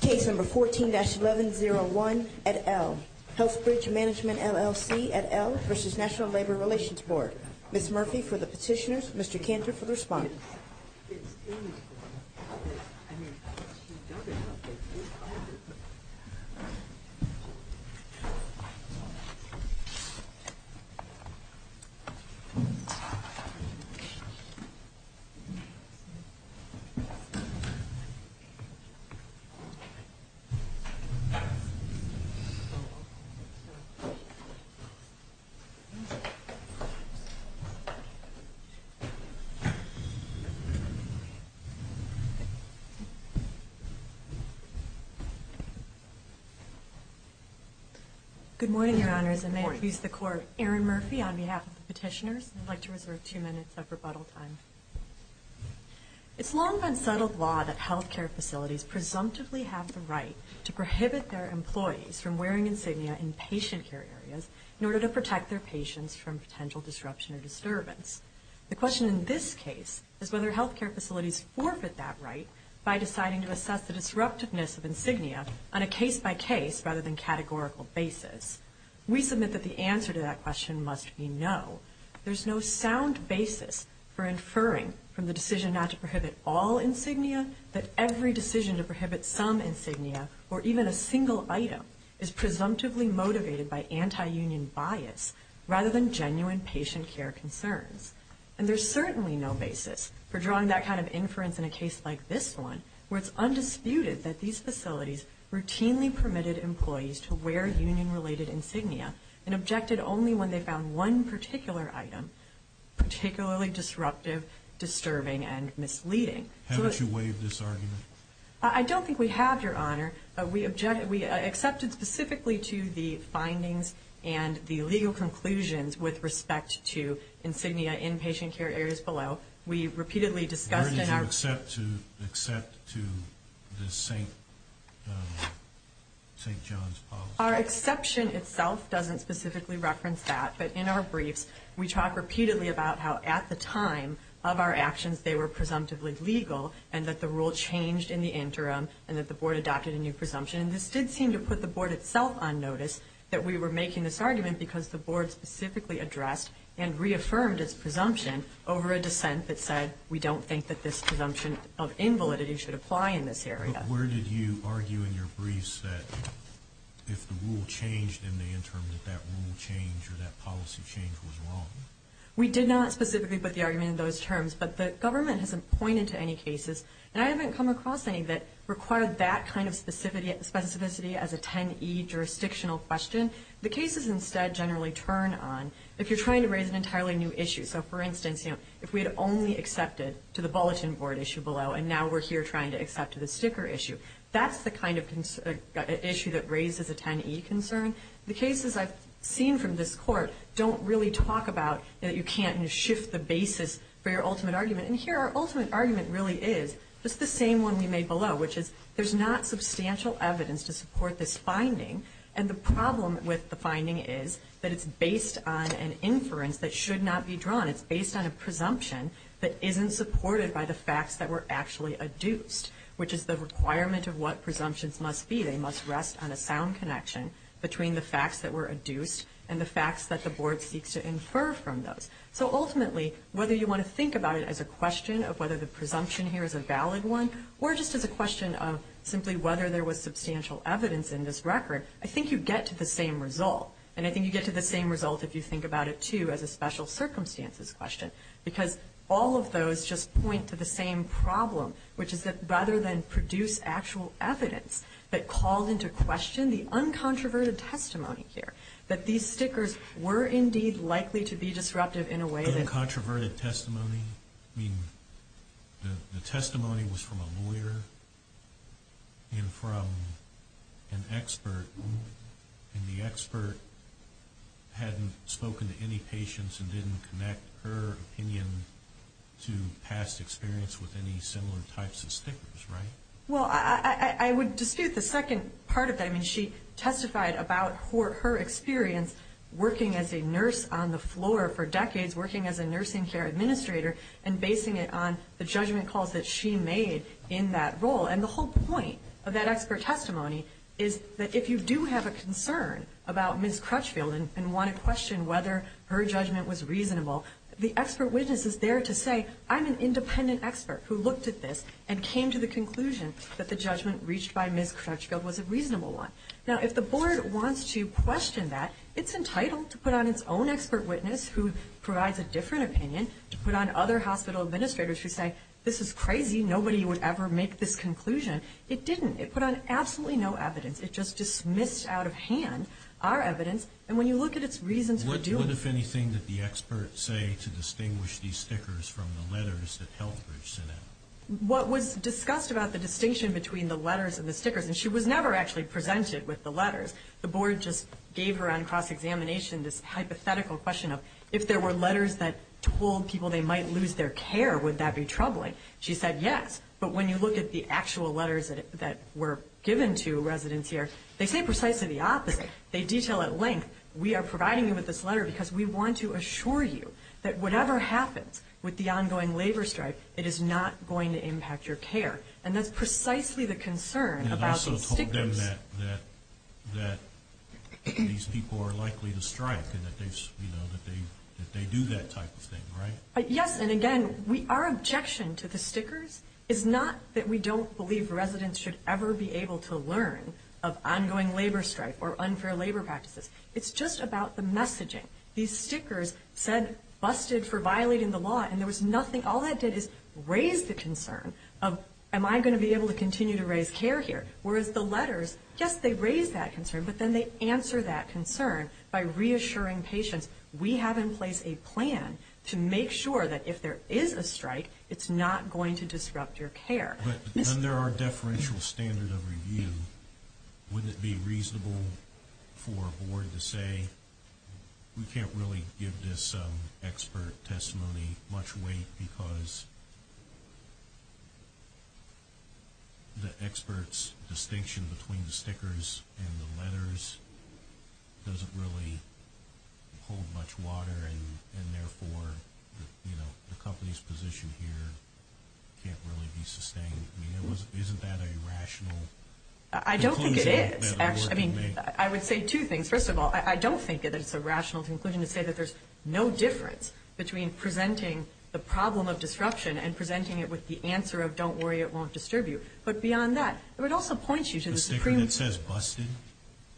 Case number 14-1101 at L. Healthbridge Management, LLC at L v. National Labor Relations Board. Ms. Murphy for the petitioners, Mr. Cantor for the respondents. Good morning, Your Honors, and may it please the Court, Erin Murphy on behalf of the petitioners would like to reserve two minutes of rebuttal time. It's long been settled law that health care facilities presumptively have the right to prohibit their employees from wearing insignia in patient care areas in order to protect their patients from potential disruption or disturbance. The question in this case is whether health care facilities forfeit that right by deciding to assess the disruptiveness of insignia on a case-by-case rather than categorical basis. We submit that the answer to that question must be no. There's no sound basis for inferring from the decision not to prohibit all insignia that every decision to prohibit some insignia or even a single item is presumptively motivated by anti-union bias rather than genuine patient care concerns. And there's certainly no basis for drawing that kind of inference in a case like this one where it's undisputed that these facilities routinely permitted employees to wear union-related insignia and objected only when they found one particular item particularly disruptive, disturbing, and misleading. Haven't you waived this argument? I don't think we have, Your Honor. We accepted specifically to the findings and the legal conclusions with respect to insignia in patient care areas below. We repeatedly discussed in our... Where did you accept to the St. John's policy? Our exception itself doesn't specifically reference that, but in our briefs we talk repeatedly about how at the time of our actions they were presumptively legal and that the rule changed in the interim and that the Board adopted a new presumption. And this did seem to put the Board itself on notice that we were making this argument because the Board specifically addressed and reaffirmed its presumption over a dissent that said we don't think that this presumption of invalidity should apply in this area. Where did you argue in your briefs that if the rule changed in the interim that that rule changed or that policy change was wrong? We did not specifically put the argument in those terms, but the government hasn't pointed to any cases, and I haven't come across any that require that kind of specificity as a 10E jurisdictional question. The cases instead generally turn on if you're trying to raise an entirely new issue. So, for instance, if we had only accepted to the Bulletin Board issue below, and now we're here trying to accept to the sticker issue, that's the kind of issue that raises a 10E concern. The cases I've seen from this Court don't really talk about that you can't shift the basis for your ultimate argument. And here our ultimate argument really is just the same one we made below, which is there's not substantial evidence to support this finding, and the problem with the finding is that it's based on an inference that should not be drawn. It's based on a presumption that isn't supported by the facts that were actually adduced, which is the requirement of what presumptions must be. They must rest on a sound connection between the facts that were adduced and the facts that the Board seeks to infer from those. So, ultimately, whether you want to think about it as a question of whether the presumption here is a valid one or just as a question of simply whether there was substantial evidence in this record, I think you get to the same result, and I think you get to the same result if you think about it, too, as a special circumstances question. Because all of those just point to the same problem, which is that rather than produce actual evidence that called into question the uncontroverted testimony here, that these stickers were indeed likely to be disruptive in a way that... The testimony was from a lawyer and from an expert, and the expert hadn't spoken to any patients and didn't connect her opinion to past experience with any similar types of stickers, right? Well, I would dispute the second part of that. I mean, she testified about her experience working as a nurse on the floor for decades, working as a nursing care administrator, and basing it on the judgment calls that she made in that role. And the whole point of that expert testimony is that if you do have a concern about Ms. Crutchfield and want to question whether her judgment was reasonable, the expert witness is there to say, I'm an independent expert who looked at this and came to the conclusion that the judgment reached by Ms. Crutchfield was a reasonable one. Now, if the Board wants to question that, it's entitled to put on its own expert witness who provides a different opinion, to put on other hospital administrators who say, this is crazy, nobody would ever make this conclusion. It didn't. It put on absolutely no evidence. It just dismissed out of hand our evidence. And when you look at its reasons for doing... What, if anything, did the expert say to distinguish these stickers from the letters that HealthBridge sent out? What was discussed about the distinction between the letters and the stickers, and she was never actually presented with the letters. The Board just gave her on cross-examination this hypothetical question of, if there were letters that told people they might lose their care, would that be troubling? She said, yes. But when you look at the actual letters that were given to residents here, they say precisely the opposite. They detail at length, we are providing you with this letter because we want to assure you that whatever happens with the ongoing labor strike, it is not going to impact your care. And that's precisely the concern about these stickers. It's clear to them that these people are likely to strike and that they do that type of thing, right? Yes, and again, our objection to the stickers is not that we don't believe residents should ever be able to learn of ongoing labor strike or unfair labor practices. It's just about the messaging. These stickers said, busted for violating the law, and there was nothing. All that did is raise the concern of, am I going to be able to continue to raise care here? Whereas the letters, yes, they raise that concern, but then they answer that concern by reassuring patients, we have in place a plan to make sure that if there is a strike, it's not going to disrupt your care. But under our deferential standard of review, wouldn't it be reasonable for a board to say, we can't really give this expert testimony much weight because the expert's distinction between the stickers and the letters doesn't really hold much water, and therefore, you know, the company's position here can't really be sustained. I mean, isn't that a rational conclusion that a board can make? I don't think it is. I would say two things. First of all, I don't think that it's a rational conclusion to say that there's no difference between presenting the problem of disruption and presenting it with the answer of, don't worry, it won't disturb you. But beyond that, I would also point you to the Supreme Court. The sticker that says, busted?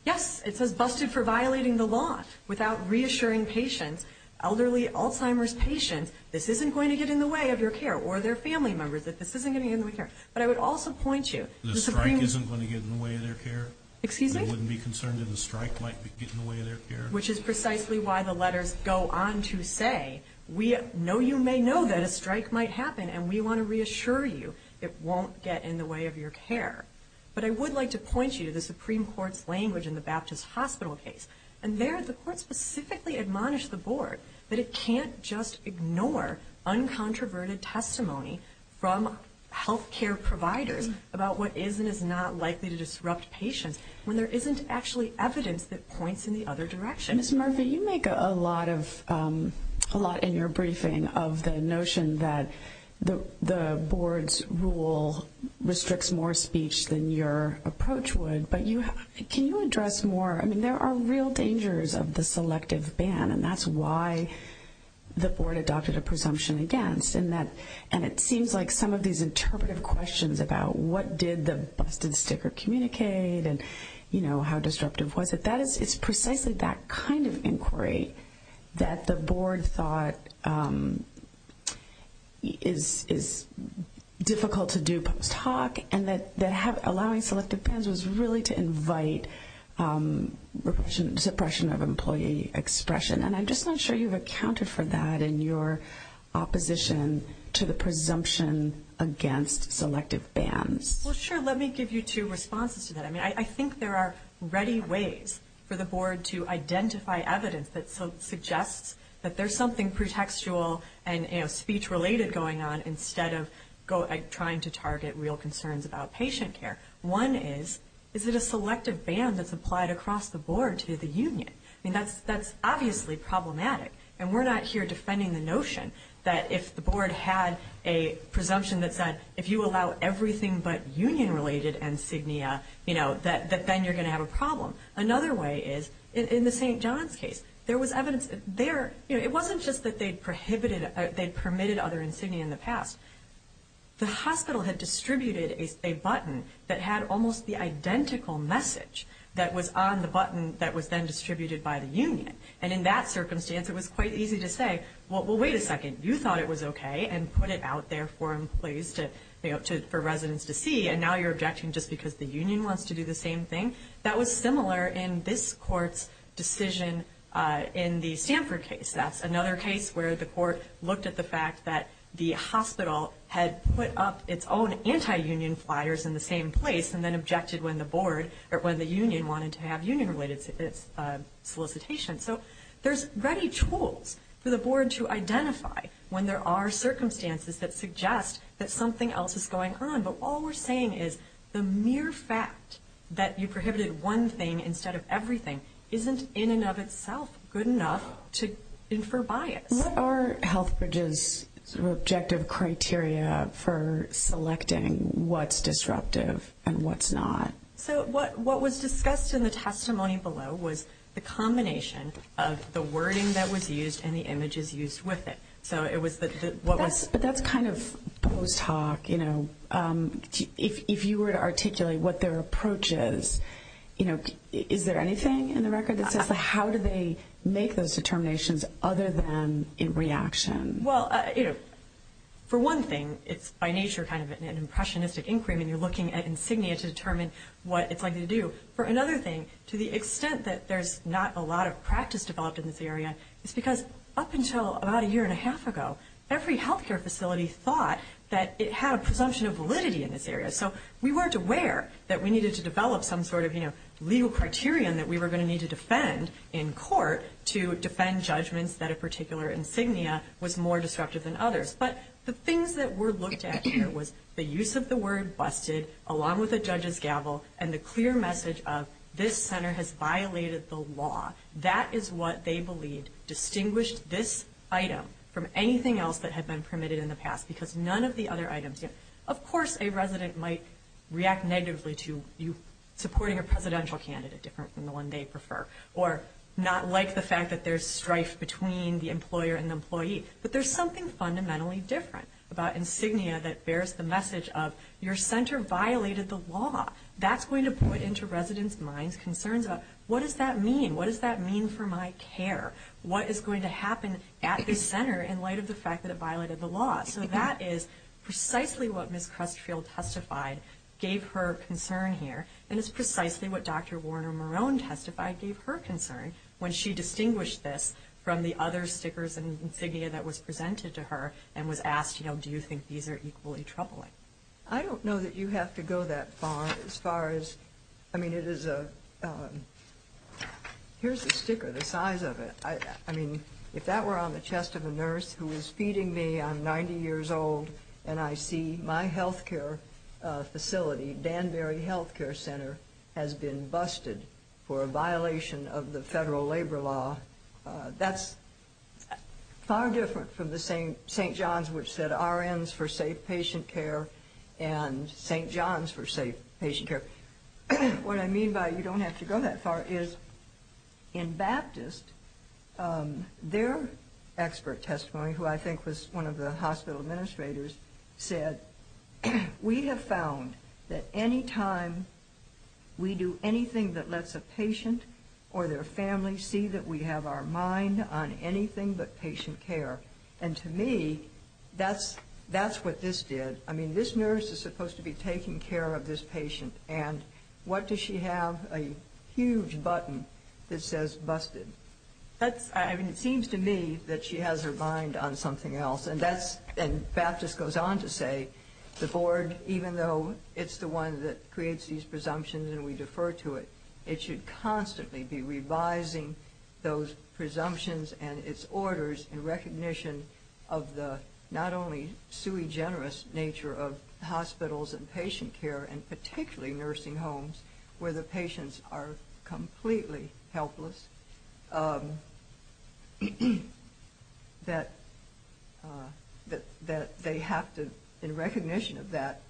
Yes, it says, busted for violating the law, without reassuring patients, elderly, Alzheimer's patients, this isn't going to get in the way of your care, or their family members, that this isn't going to get in the way of their care. But I would also point you to the Supreme Court. The strike isn't going to get in the way of their care? Excuse me? They wouldn't be concerned that a strike might get in the way of their care? Which is precisely why the letters go on to say, no, you may know that a strike might happen, and we want to reassure you it won't get in the way of your care. But I would like to point you to the Supreme Court's language in the Baptist Hospital case. And there, the court specifically admonished the board that it can't just ignore uncontroverted testimony from health care providers about what is and is not likely to disrupt patients when there isn't actually evidence that points in the other direction. Ms. Murphy, you make a lot in your briefing of the notion that the board's rule restricts more speech than your approach would. But can you address more? I mean, there are real dangers of the selective ban, and that's why the board adopted a presumption against. And it seems like some of these interpretive questions about what did the busted sticker communicate and how disruptive was it, it's precisely that kind of inquiry that the board thought is difficult to do post hoc, and that allowing selective bans was really to invite suppression of employee expression. And I'm just not sure you've accounted for that in your opposition to the presumption against selective bans. Well, sure, let me give you two responses to that. I mean, I think there are ready ways for the board to identify evidence that suggests that there's something pretextual and speech-related going on instead of trying to target real concerns about patient care. One is, is it a selective ban that's applied across the board to the union? I mean, that's obviously problematic, and we're not here defending the notion that if the board had a presumption that said, if you allow everything but union-related insignia, you know, that then you're going to have a problem. Another way is, in the St. John's case, there was evidence there. You know, it wasn't just that they'd prohibited, they'd permitted other insignia in the past. The hospital had distributed a button that had almost the identical message that was on the button that was then distributed by the union. And in that circumstance, it was quite easy to say, well, wait a second, you thought it was okay, and put it out there for employees to, you know, for residents to see, and now you're objecting just because the union wants to do the same thing? That was similar in this court's decision in the Stanford case. That's another case where the court looked at the fact that the hospital had put up its own anti-union flyers in the same place and then objected when the board, or when the union wanted to have union-related solicitation. So there's ready tools for the board to identify when there are circumstances that suggest that something else is going on. But all we're saying is the mere fact that you prohibited one thing instead of everything isn't in and of itself good enough to infer bias. What are HealthBridge's objective criteria for selecting what's disruptive and what's not? So what was discussed in the testimony below was the combination of the wording that was used and the images used with it. But that's kind of post-hoc, you know. If you were to articulate what their approach is, you know, is there anything in the record that says how do they make those determinations other than in reaction? Well, you know, for one thing, it's by nature kind of an impressionistic inquiry when you're looking at insignia to determine what it's likely to do. For another thing, to the extent that there's not a lot of practice developed in this area, it's because up until about a year and a half ago, every health care facility thought that it had a presumption of validity in this area. So we weren't aware that we needed to develop some sort of, you know, legal criterion that we were going to need to defend in court to defend judgments that a particular insignia was more disruptive than others. But the things that were looked at here was the use of the word busted along with a judge's gavel and the clear message of this center has violated the law. That is what they believed distinguished this item from anything else that had been permitted in the past because none of the other items here. Of course, a resident might react negatively to you supporting a presidential candidate, different from the one they prefer, or not like the fact that there's strife between the employer and the employee. But there's something fundamentally different about insignia that bears the message of your center violated the law. That's going to point into residents' minds, concerns about what does that mean? What does that mean for my care? What is going to happen at this center in light of the fact that it violated the law? So that is precisely what Ms. Crustfield testified gave her concern here, and it's precisely what Dr. Warner-Marone testified gave her concern when she distinguished this from the other stickers and insignia that was presented to her and was asked, you know, do you think these are equally troubling? I don't know that you have to go that far as far as, I mean, it is a, here's a sticker the size of it. I mean, if that were on the chest of a nurse who is feeding me, I'm 90 years old, and I see my health care facility, Danbury Health Care Center, has been busted for a violation of the federal labor law, that's far different from the St. John's which said RNs for safe patient care and St. John's for safe patient care. What I mean by you don't have to go that far is in Baptist, their expert testimony, who I think was one of the hospital administrators, said, we have found that any time we do anything that lets a patient or their family see that we have our mind on anything but patient care, and to me, that's what this did. I mean, this nurse is supposed to be taking care of this patient, and what does she have, a huge button that says busted. I mean, it seems to me that she has her mind on something else, and Baptist goes on to say the board, even though it's the one that creates these presumptions and we defer to it, it should constantly be revising those presumptions and its orders in recognition of the not only sui generis nature of hospitals and patient care, and particularly nursing homes where the patients are completely helpless, that they have to, in recognition of that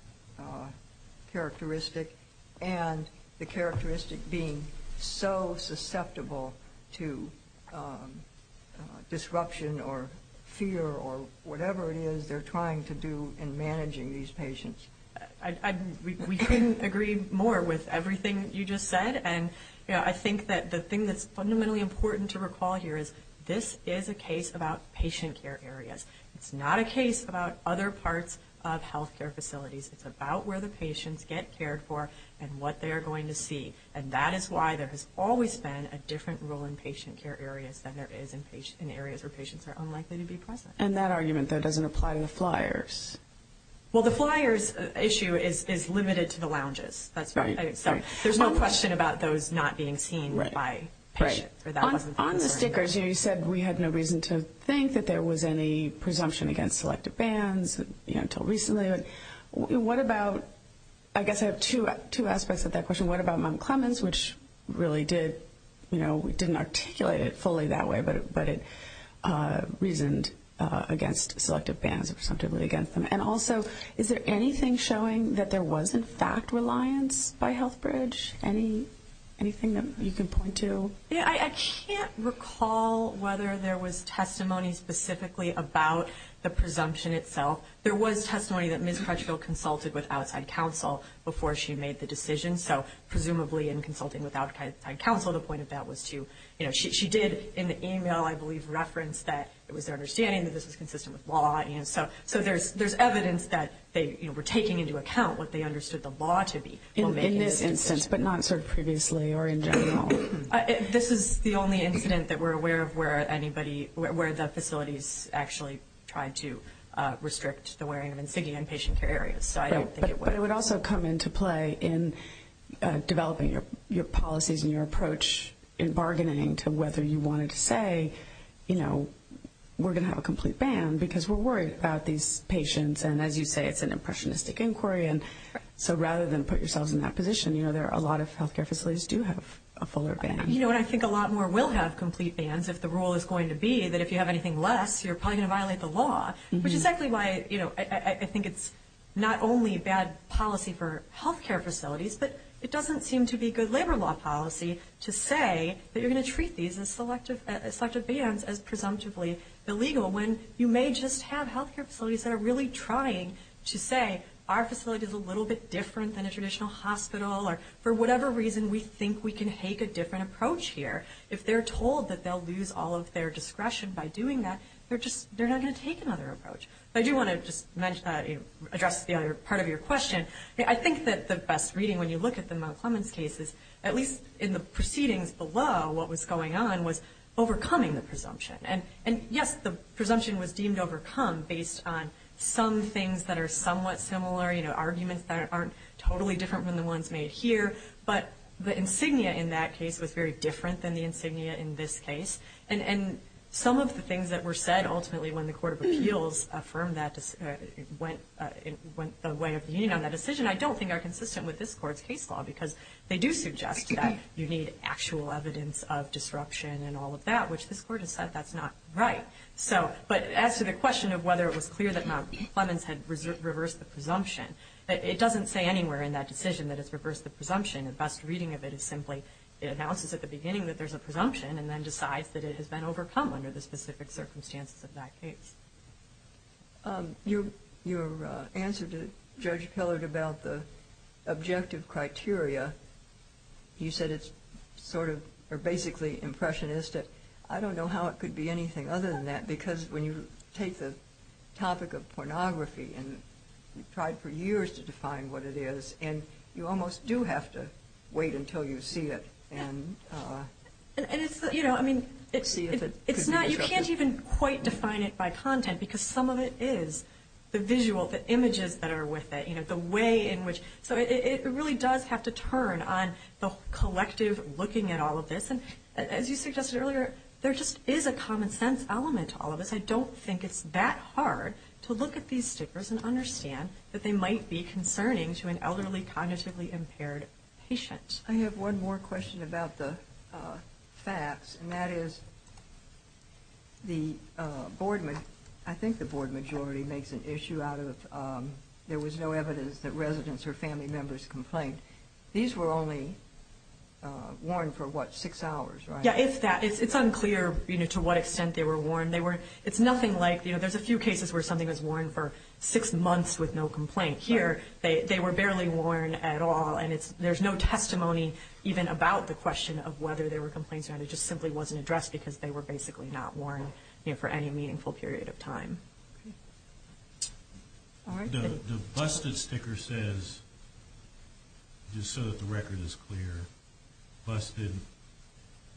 characteristic, and the characteristic being so susceptible to disruption or fear or whatever it is they're trying to do in managing these patients. We couldn't agree more with everything you just said, and I think that the thing that's fundamentally important to recall here is this is a case about patient care areas. It's not a case about other parts of health care facilities. It's about where the patients get cared for and what they're going to see, and that is why there has always been a different role in patient care areas than there is in areas where patients are unlikely to be present. And that argument, though, doesn't apply to the flyers. Well, the flyers issue is limited to the lounges. There's no question about those not being seen by patients. On the stickers, you said we had no reason to think that there was any presumption against selective bans until recently. I guess I have two aspects of that question. What about Mom Clemens, which really didn't articulate it fully that way, but it reasoned against selective bans or presumptively against them? And also, is there anything showing that there was, in fact, reliance by HealthBridge? Anything that you can point to? I can't recall whether there was testimony specifically about the presumption itself. There was testimony that Ms. Crutchfield consulted with outside counsel before she made the decision, so presumably in consulting with outside counsel, the point of that was to, you know, she did in the email, I believe, reference that it was their understanding that this was consistent with law. So there's evidence that they were taking into account what they understood the law to be. In this instance, but not sort of previously or in general? This is the only incident that we're aware of where anybody, where the facilities actually tried to restrict the wearing of insignia in patient care areas. So I don't think it would. But it would also come into play in developing your policies and your approach in bargaining to whether you wanted to say, you know, we're going to have a complete ban because we're worried about these patients. And as you say, it's an impressionistic inquiry. And so rather than put yourselves in that position, you know, a lot of health care facilities do have a fuller ban. You know, and I think a lot more will have complete bans if the rule is going to be that if you have anything less, you're probably going to violate the law, which is exactly why, you know, I think it's not only bad policy for health care facilities, but it doesn't seem to be good labor law policy to say that you're going to treat these as selective bans as presumptively illegal when you may just have health care facilities that are really trying to say our facility is a little bit different than a traditional hospital or for whatever reason we think we can take a different approach here. If they're told that they'll lose all of their discretion by doing that, they're just not going to take another approach. I do want to just address the other part of your question. I think that the best reading when you look at the Mount Clemens cases, at least in the proceedings below, what was going on was overcoming the presumption. And, yes, the presumption was deemed overcome based on some things that are somewhat similar, you know, arguments that aren't totally different than the ones made here, but the insignia in that case was very different than the insignia in this case. And some of the things that were said ultimately when the Court of Appeals went the way of the Union on that decision I don't think are consistent with this Court's case law because they do suggest that you need actual evidence of disruption and all of that, which this Court has said that's not right. But as to the question of whether it was clear that Mount Clemens had reversed the presumption, it doesn't say anywhere in that decision that it's reversed the presumption. The best reading of it is simply it announces at the beginning that there's a presumption and then decides that it has been overcome under the specific circumstances of that case. Your answer to Judge Pillard about the objective criteria, you said it's sort of or basically impressionistic. I don't know how it could be anything other than that because when you take the topic of pornography and you've tried for years to define what it is and you almost do have to wait until you see it. And it's not, you can't even quite define it by content because some of it is the visual, the images that are with it, the way in which. So it really does have to turn on the collective looking at all of this. And as you suggested earlier, there just is a common sense element to all of this. I don't think it's that hard to look at these stickers and understand that they might be concerning to an elderly, cognitively impaired patient. I have one more question about the facts. And that is the board, I think the board majority makes an issue out of there was no evidence that residents or family members complained. These were only worn for what, six hours, right? Yeah, it's unclear to what extent they were worn. It's nothing like, you know, there's a few cases where something was worn for six months with no complaint. Here, they were barely worn at all. And there's no testimony even about the question of whether there were complaints or not. It just simply wasn't addressed because they were basically not worn for any meaningful period of time. The busted sticker says, just so that the record is clear, busted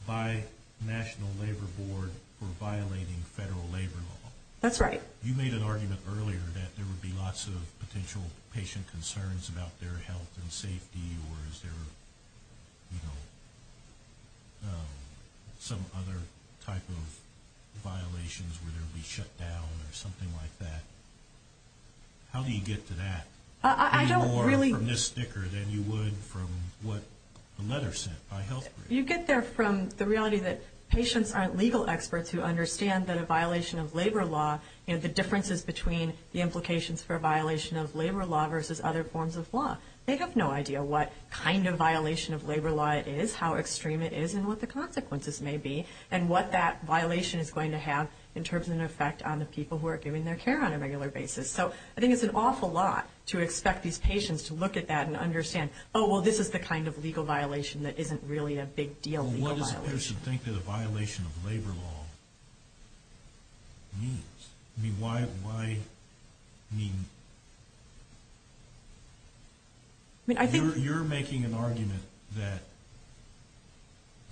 by National Labor Board for violating federal labor law. That's right. You made an argument earlier that there would be lots of potential patient concerns about their health and safety or is there, you know, some other type of violations where they would be shut down or something like that. How do you get to that? I don't really. Any more from this sticker than you would from what the letter said by health. You get there from the reality that patients aren't legal experts who understand that a violation of labor law, you know, the differences between the implications for a violation of labor law versus other forms of law. They have no idea what kind of violation of labor law it is, how extreme it is, and what the consequences may be and what that violation is going to have in terms of an effect on the people who are giving their care on a regular basis. So I think it's an awful lot to expect these patients to look at that and understand, oh, well, this is the kind of legal violation that isn't really a big deal legal violation. Why would a person think that a violation of labor law means? I mean, why, I mean, you're making an argument that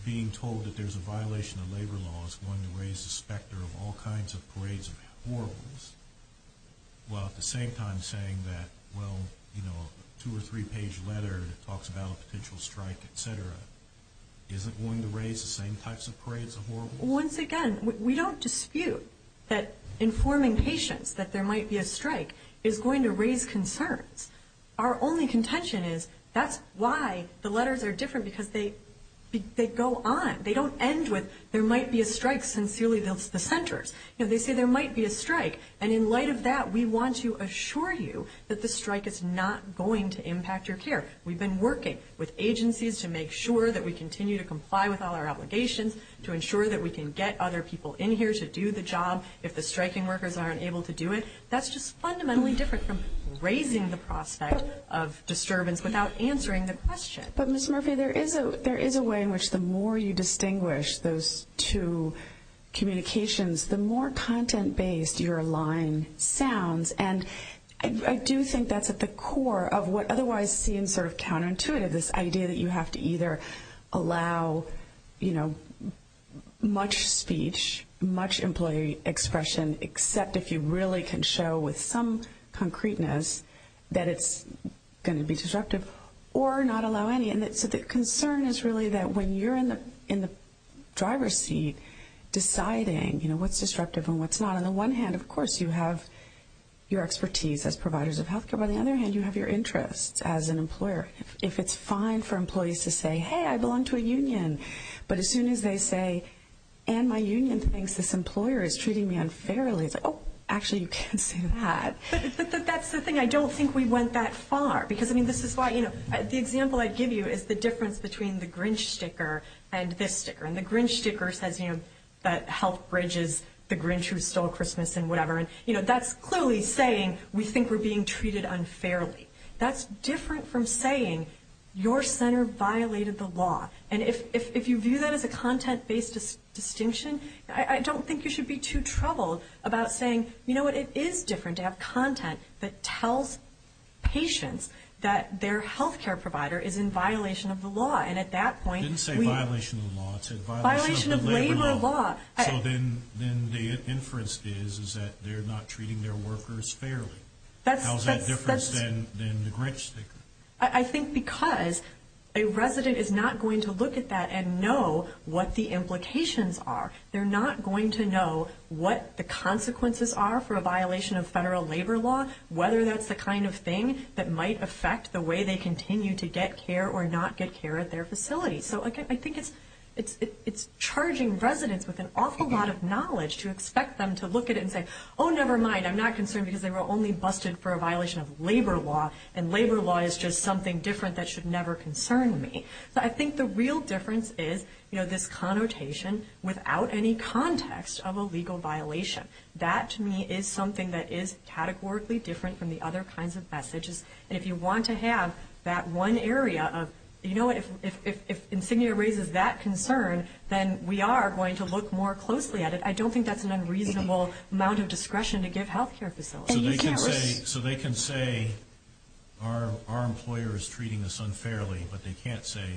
being told that there's a violation of labor law is going to raise the specter of all kinds of parades of horrors while at the same time saying that, well, you know, a two- or three-page letter that talks about a potential strike, et cetera, isn't going to raise the same types of parades of horrors? Once again, we don't dispute that informing patients that there might be a strike is going to raise concerns. Our only contention is that's why the letters are different because they go on. They don't end with there might be a strike, sincerely, the centers. You know, they say there might be a strike, and in light of that, we want to assure you that the strike is not going to impact your care. We've been working with agencies to make sure that we continue to comply with all our obligations to ensure that we can get other people in here to do the job if the striking workers aren't able to do it. That's just fundamentally different from raising the prospect of disturbance without answering the question. But, Ms. Murphy, there is a way in which the more you distinguish those two communications, the more content-based your line sounds. And I do think that's at the core of what otherwise seems sort of counterintuitive, this idea that you have to either allow, you know, much speech, much employee expression, except if you really can show with some concreteness that it's going to be disruptive, or not allow any. And so the concern is really that when you're in the driver's seat deciding, you know, what's disruptive and what's not, on the one hand, of course, you have your expertise as providers of health care. On the other hand, you have your interests as an employer. If it's fine for employees to say, hey, I belong to a union, but as soon as they say, and my union thinks this employer is treating me unfairly, it's like, oh, actually, you can't say that. But that's the thing. I don't think we went that far, because, I mean, this is why, you know, the example I give you is the difference between the Grinch sticker and this sticker. And the Grinch sticker says, you know, that health bridges the Grinch who stole Christmas and whatever. And, you know, that's clearly saying we think we're being treated unfairly. That's different from saying your center violated the law. And if you view that as a content-based distinction, I don't think you should be too troubled about saying, you know what, it is different to have content that tells patients that their health care provider is in violation of the law. And at that point we- It didn't say violation of the law. It said violation of the labor law. So then the inference is that they're not treating their workers fairly. How is that different than the Grinch sticker? I think because a resident is not going to look at that and know what the implications are. They're not going to know what the consequences are for a violation of federal labor law, whether that's the kind of thing that might affect the way they continue to get care or not get care at their facility. So I think it's charging residents with an awful lot of knowledge to expect them to look at it and say, oh, never mind, I'm not concerned because they were only busted for a violation of labor law, and labor law is just something different that should never concern me. So I think the real difference is, you know, this connotation without any context of a legal violation. That, to me, is something that is categorically different from the other kinds of messages. And if you want to have that one area of, you know, if insignia raises that concern, then we are going to look more closely at it. I don't think that's an unreasonable amount of discretion to give health care facilities. So they can say our employer is treating us unfairly, but they can't say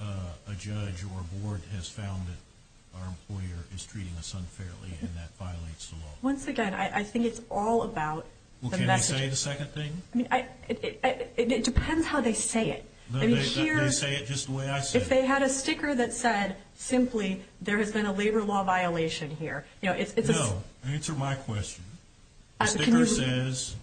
a judge or a board has found that our employer is treating us unfairly and that violates the law. Once again, I think it's all about the message. Well, can they say the second thing? I mean, it depends how they say it. They say it just the way I said it. If they had a sticker that said simply, there has been a labor law violation here. No, answer my question. The sticker says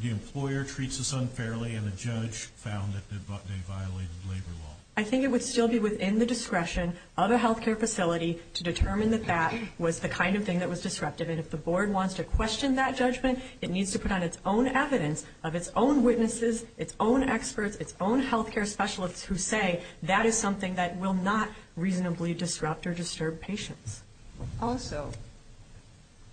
the employer treats us unfairly and the judge found that they violated labor law. I think it would still be within the discretion of a health care facility to determine that that was the kind of thing that was disruptive. And if the board wants to question that judgment, it needs to put on its own evidence of its own witnesses, its own experts, its own health care specialists who say that is something that will not reasonably disrupt or disturb patients. Also,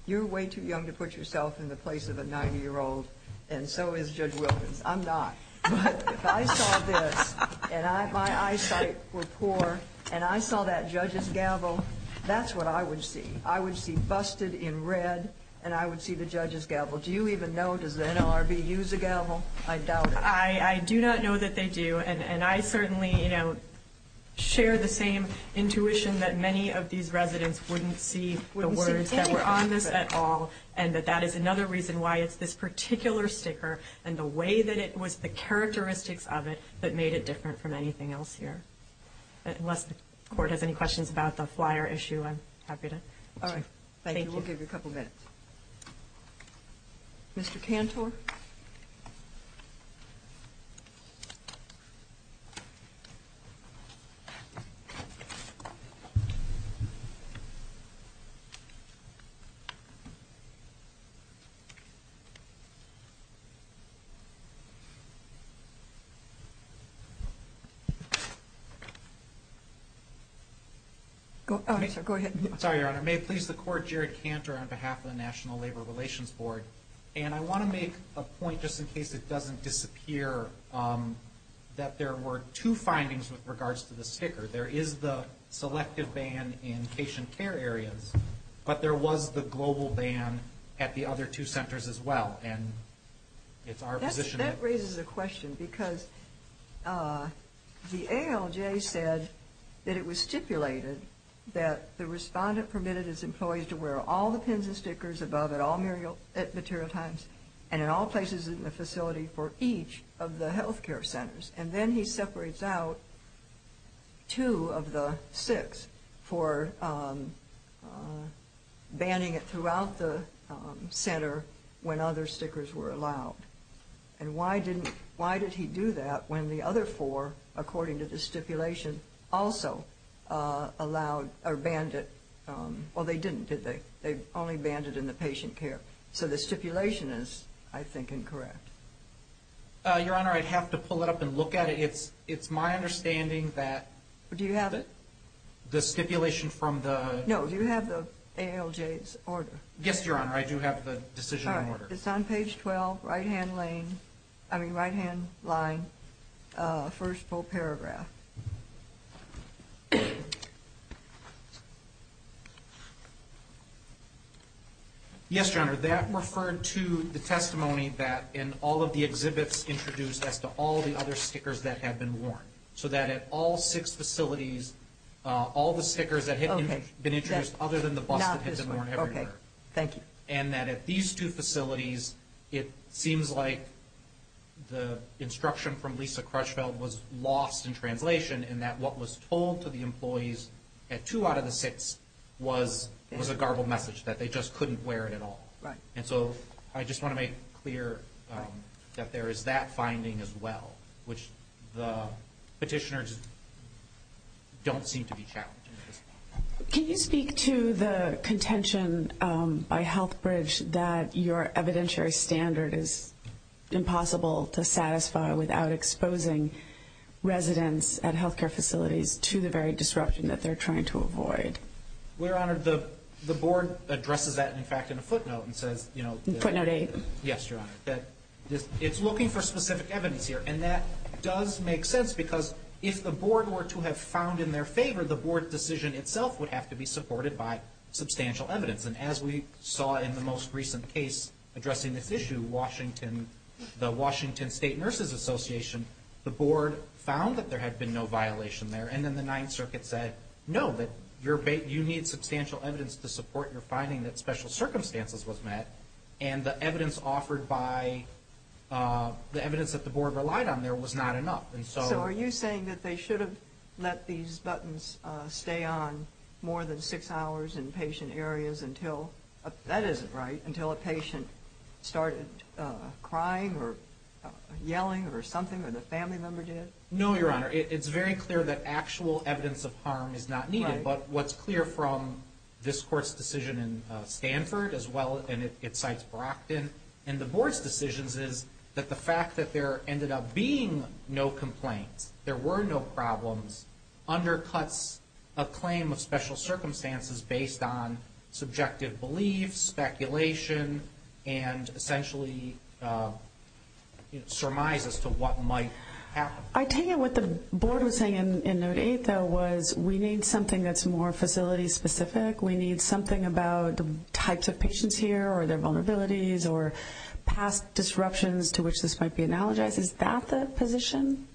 you're way too young to put yourself in the place of a 90-year-old, and so is Judge Wilkins. I'm not. But if I saw this and my eyesight were poor and I saw that judge's gavel, that's what I would see. I would see busted in red and I would see the judge's gavel. Do you even know? Does the NLRB use a gavel? I doubt it. I do not know that they do, and I certainly share the same intuition that many of these residents wouldn't see the words that were on this at all and that that is another reason why it's this particular sticker and the way that it was, the characteristics of it that made it different from anything else here. Unless the court has any questions about the flyer issue, I'm happy to. All right. Thank you. We'll give you a couple minutes. Mr. Cantor? Oh, I'm sorry. Go ahead. I'm sorry, Your Honor. May it please the Court, Jared Cantor on behalf of the National Labor Relations Board, and I want to make a point just in case it doesn't disappear that there were two findings with regards to the sticker. There is the selective ban in patient care areas, but there was the global ban at the other two centers as well, and it's our position that That raises a question because the ALJ said that it was stipulated that the respondent permitted his employees to wear all the pins and stickers above at all material times and in all places in the facility for each of the health care centers, and then he separates out two of the six for banning it throughout the center when other stickers were allowed. And why did he do that when the other four, according to the stipulation, also banned it? Well, they didn't, did they? They only banned it in the patient care. So the stipulation is, I think, incorrect. Your Honor, I'd have to pull it up and look at it. It's my understanding that the stipulation from the No, do you have the ALJ's order? Yes, Your Honor. I do have the decision order. It's on page 12, right-hand lane, I mean, right-hand line, first full paragraph. Yes, Your Honor, that referred to the testimony that in all of the exhibits introduced as to all the other stickers that had been worn, so that at all six facilities, all the stickers that had been introduced other than the bust had been worn everywhere. Okay, thank you. And that at these two facilities, it seems like the instruction from Lisa Crutchfield was lost in translation and that what was told to the employees at two out of the six was a garbled message, that they just couldn't wear it at all. Right. And so I just want to make clear that there is that finding as well, which the petitioners don't seem to be challenging at this point. Can you speak to the contention by HealthBridge that your evidentiary standard is impossible to satisfy without exposing residents at health care facilities to the very disruption that they're trying to avoid? Well, Your Honor, the board addresses that, in fact, in a footnote and says, you know, Footnote 8. Yes, Your Honor, that it's looking for specific evidence here, and that does make sense because if the board were to have found in their favor, the board decision itself would have to be supported by substantial evidence. And as we saw in the most recent case addressing this issue, the Washington State Nurses Association, the board found that there had been no violation there, and then the Ninth Circuit said, no, that you need substantial evidence to support your finding that special circumstances was met, and the evidence offered by the evidence that the board relied on there was not enough. So are you saying that they should have let these buttons stay on more than six hours in patient areas until, that isn't right, until a patient started crying or yelling or something, or the family member did? No, Your Honor, it's very clear that actual evidence of harm is not needed, but what's clear from this court's decision in Stanford as well, and it cites Brockton, and the board's decisions is that the fact that there ended up being no complaints, there were no problems, undercuts a claim of special circumstances based on subjective beliefs, speculation, and essentially surmise as to what might happen. I take it what the board was saying in Note 8, though, was we need something that's more facility specific. We need something about the types of patients here or their vulnerabilities or past disruptions to which this might be analogized. Is that the position?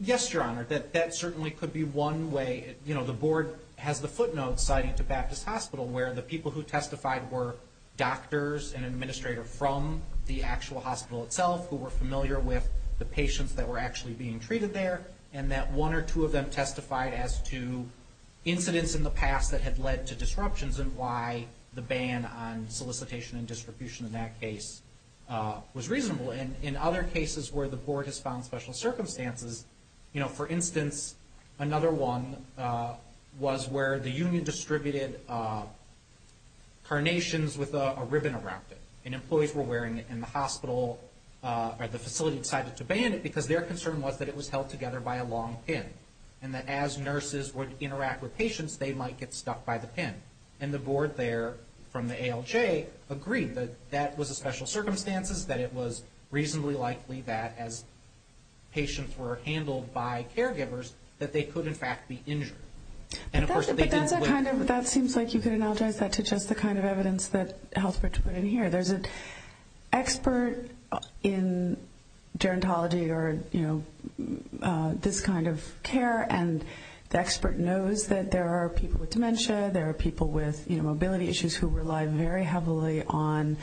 Yes, Your Honor. That certainly could be one way. You know, the board has the footnotes citing to Baptist Hospital where the people who testified were doctors and an administrator from the actual hospital itself who were familiar with the patients that were actually being treated there, and that one or two of them testified as to incidents in the past that had led to disruptions and why the ban on solicitation and distribution in that case was reasonable. And in other cases where the board has found special circumstances, you know, for instance, another one was where the union distributed carnations with a ribbon around it, and employees were wearing it in the hospital or the facility decided to ban it because their concern was that it was held together by a long pin and that as nurses would interact with patients, they might get stuck by the pin. And the board there from the ALJ agreed that that was a special circumstances, that it was reasonably likely that as patients were handled by caregivers that they could, in fact, be injured. But that seems like you could analogize that to just the kind of evidence that Healthbridge put in here. There's an expert in gerontology or, you know, this kind of care, and the expert knows that there are people with dementia, there are people with, you know, mobility issues who rely very heavily on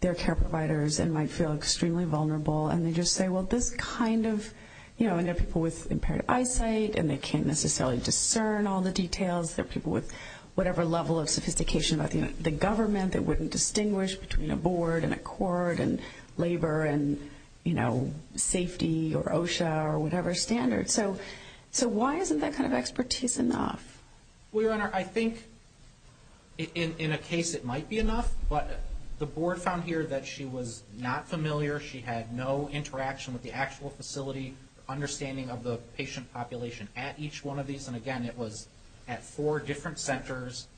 their care providers and might feel extremely vulnerable. And they just say, well, this kind of, you know, and there are people with impaired eyesight and they can't necessarily discern all the details. There are people with whatever level of sophistication about the government that wouldn't distinguish between a board and a court and labor and, you know, safety or OSHA or whatever standard. So why isn't that kind of expertise enough? Well, Your Honor, I think in a case it might be enough, but the board found here that she was not familiar, she had no interaction with the actual facility, understanding of the patient population at each one of these. And again, it was at four different centers.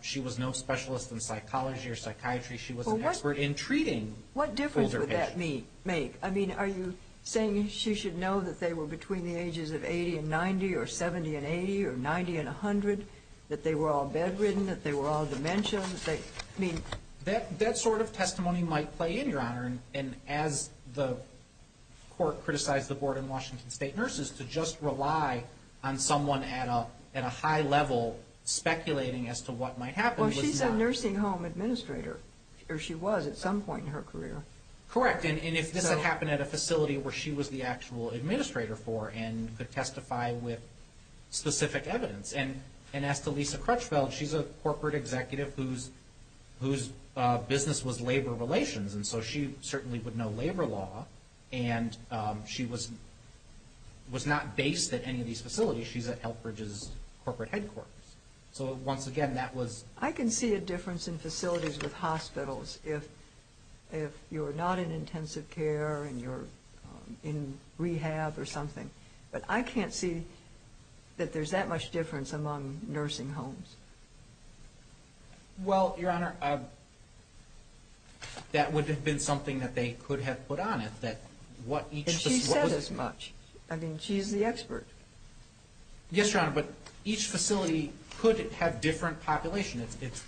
She was no specialist in psychology or psychiatry. She was an expert in treating older patients. What difference would that make? I mean, are you saying she should know that they were between the ages of 80 and 90 or 70 and 80 or 90 and 100, that they were all bedridden, that they were all dementia, that they, I mean? That sort of testimony might play in, Your Honor. And as the court criticized the board in Washington State Nurses, to just rely on someone at a high level speculating as to what might happen was not. Well, she's a nursing home administrator, or she was at some point in her career. Correct. And if this had happened at a facility where she was the actual administrator for and could testify with specific evidence. And as to Lisa Crutchfield, she's a corporate executive whose business was labor relations. And so she certainly would know labor law. And she was not based at any of these facilities. She's at Elkridge's corporate headquarters. So once again, that was... I can see a difference in facilities with hospitals if you're not in intensive care and you're in rehab or something. But I can't see that there's that much difference among nursing homes. Well, Your Honor, that would have been something that they could have put on it, that what each facility... And she says as much. I mean, she's the expert. Yes, Your Honor, but each facility could have different population. It's,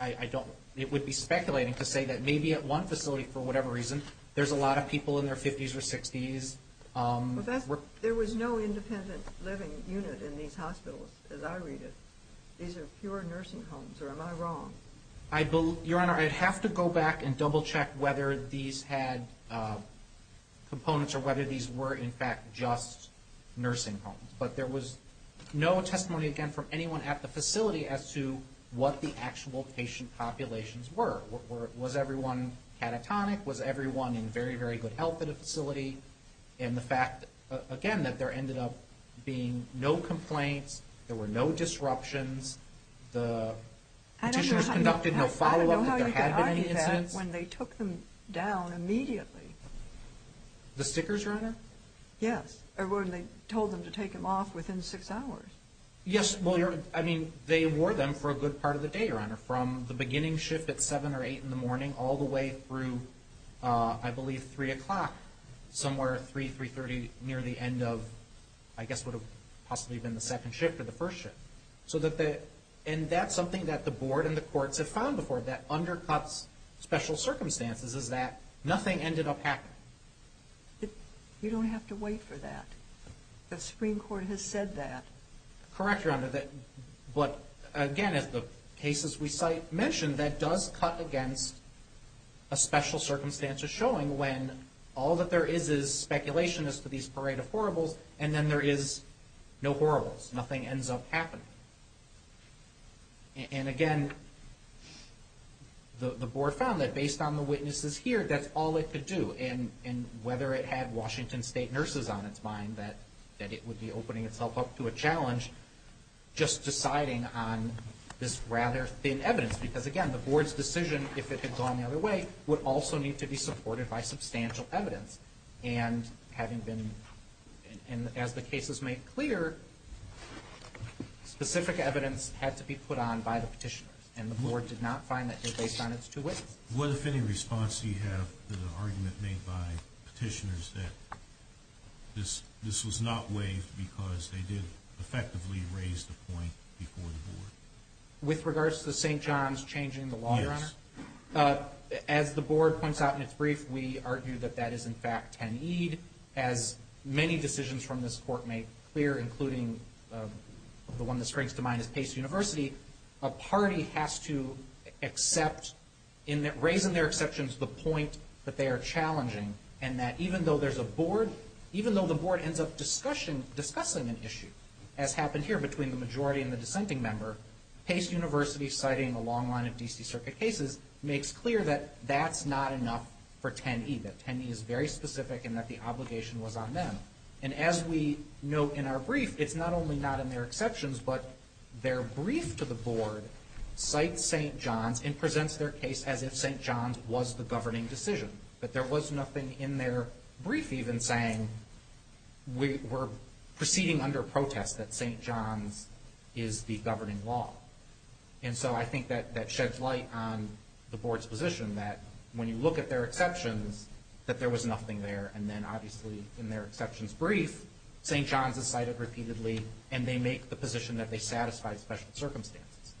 I don't, it would be speculating to say that maybe at one facility, for whatever reason, there's a lot of people in their 50s or 60s. There was no independent living unit in these hospitals as I read it. These are pure nursing homes, or am I wrong? Your Honor, I'd have to go back and double-check whether these had components or whether these were, in fact, just nursing homes. But there was no testimony, again, from anyone at the facility as to what the actual patient populations were. Was everyone catatonic? Was everyone in very, very good health at a facility? And the fact, again, that there ended up being no complaints, there were no disruptions, the physicians conducted no follow-up if there had been any incidents. I don't know how you can argue that when they took them down immediately. The stickers, Your Honor? Yes, or when they told them to take them off within six hours. Yes, well, Your Honor, I mean, they wore them for a good part of the day, Your Honor, from the beginning shift at 7 or 8 in the morning all the way through, I believe, 3 o'clock. Somewhere 3, 3.30 near the end of, I guess, what would have possibly been the second shift or the first shift. And that's something that the Board and the courts have found before. That undercuts special circumstances is that nothing ended up happening. You don't have to wait for that. The Supreme Court has said that. Correct, Your Honor. But, again, as the cases we cite mention, that does cut against a special circumstance or showing when all that there is is speculation as to these parade of horribles, and then there is no horribles. Nothing ends up happening. And, again, the Board found that based on the witnesses here, that's all it could do. And whether it had Washington State nurses on its mind that it would be opening itself up to a challenge, just deciding on this rather thin evidence, because, again, the Board's decision, if it had gone the other way, would also need to be supported by substantial evidence. And as the case is made clear, specific evidence had to be put on by the petitioners, and the Board did not find that did based on its two witnesses. What, if any, response do you have to the argument made by petitioners that this was not waived because they did effectively raise the point before the Board? With regards to St. John's changing the law, Your Honor? Yes. As the Board points out in its brief, we argue that that is, in fact, ten-eed. As many decisions from this Court make clear, including the one that strikes to mind is Pace University, a party has to accept, in raising their exceptions, the point that they are challenging, and that even though there's a Board, even though the Board ends up discussing an issue, as happened here between the majority and the dissenting member, Pace University citing a long line of D.C. Circuit cases makes clear that that's not enough for ten-eed, that ten-eed is very specific and that the obligation was on them. And as we note in our brief, it's not only not in their exceptions, but their brief to the Board cites St. John's and presents their case as if St. John's was the governing decision, that there was nothing in their brief even saying we're proceeding under protest that St. John's is the governing law. And so I think that sheds light on the Board's position that when you look at their exceptions, that there was nothing there, and then obviously in their exceptions brief, St. John's is cited repeatedly, and they make the position that they satisfy special circumstances.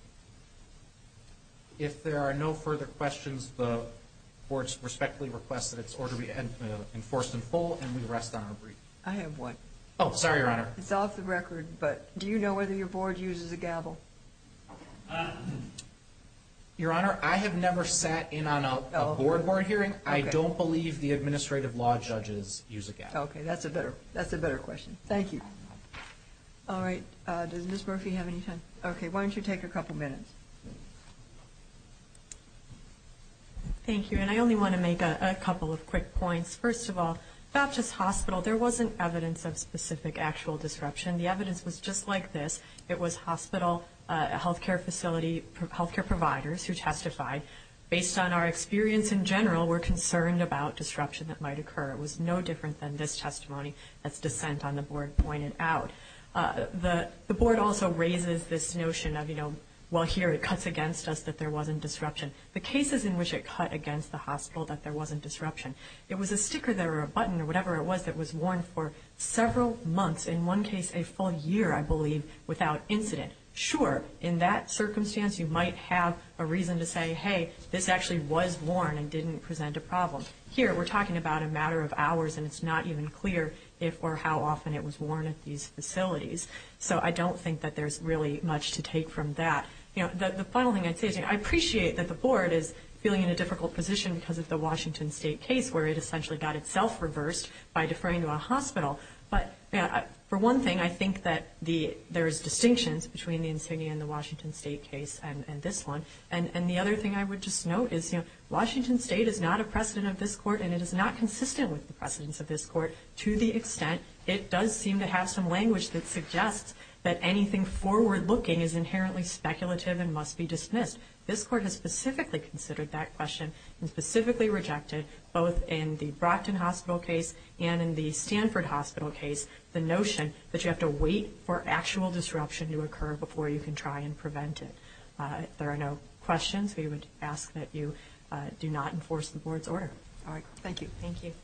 If there are no further questions, the Board respectfully requests that its order be enforced in full, and we rest on our brief. I have one. Oh, sorry, Your Honor. It's off the record, but do you know whether your Board uses a gavel? Your Honor, I have never sat in on a Board board hearing. I don't believe the administrative law judges use a gavel. Okay, that's a better question. Thank you. All right, does Ms. Murphy have any time? Okay, why don't you take a couple minutes? Thank you, and I only want to make a couple of quick points. First of all, Baptist Hospital, there wasn't evidence of specific actual disruption. The evidence was just like this. It was hospital, health care facility, health care providers who testified. Based on our experience in general, we're concerned about disruption that might occur. It was no different than this testimony, as dissent on the Board pointed out. The Board also raises this notion of, well, here it cuts against us that there wasn't disruption. The cases in which it cut against the hospital that there wasn't disruption, it was a sticker there or a button or whatever it was that was worn for several months, in one case a full year, I believe, without incident. Sure, in that circumstance, you might have a reason to say, hey, this actually was worn and didn't present a problem. Here, we're talking about a matter of hours, and it's not even clear if or how often it was worn at these facilities. So I don't think that there's really much to take from that. The final thing I'd say is I appreciate that the Board is feeling in a difficult position because of the Washington State case where it essentially got itself reversed by deferring to a hospital. But for one thing, I think that there's distinctions between the insignia in the Washington State case and this one. And the other thing I would just note is Washington State is not a precedent of this Court, and it is not consistent with the precedents of this Court to the extent it does seem to have some language that suggests that anything forward-looking is inherently speculative and must be dismissed. This Court has specifically considered that question and specifically rejected, both in the Brockton Hospital case and in the Stanford Hospital case, the notion that you have to wait for actual disruption to occur before you can try and prevent it. If there are no questions, we would ask that you do not enforce the Board's order. All right. Thank you. Thank you.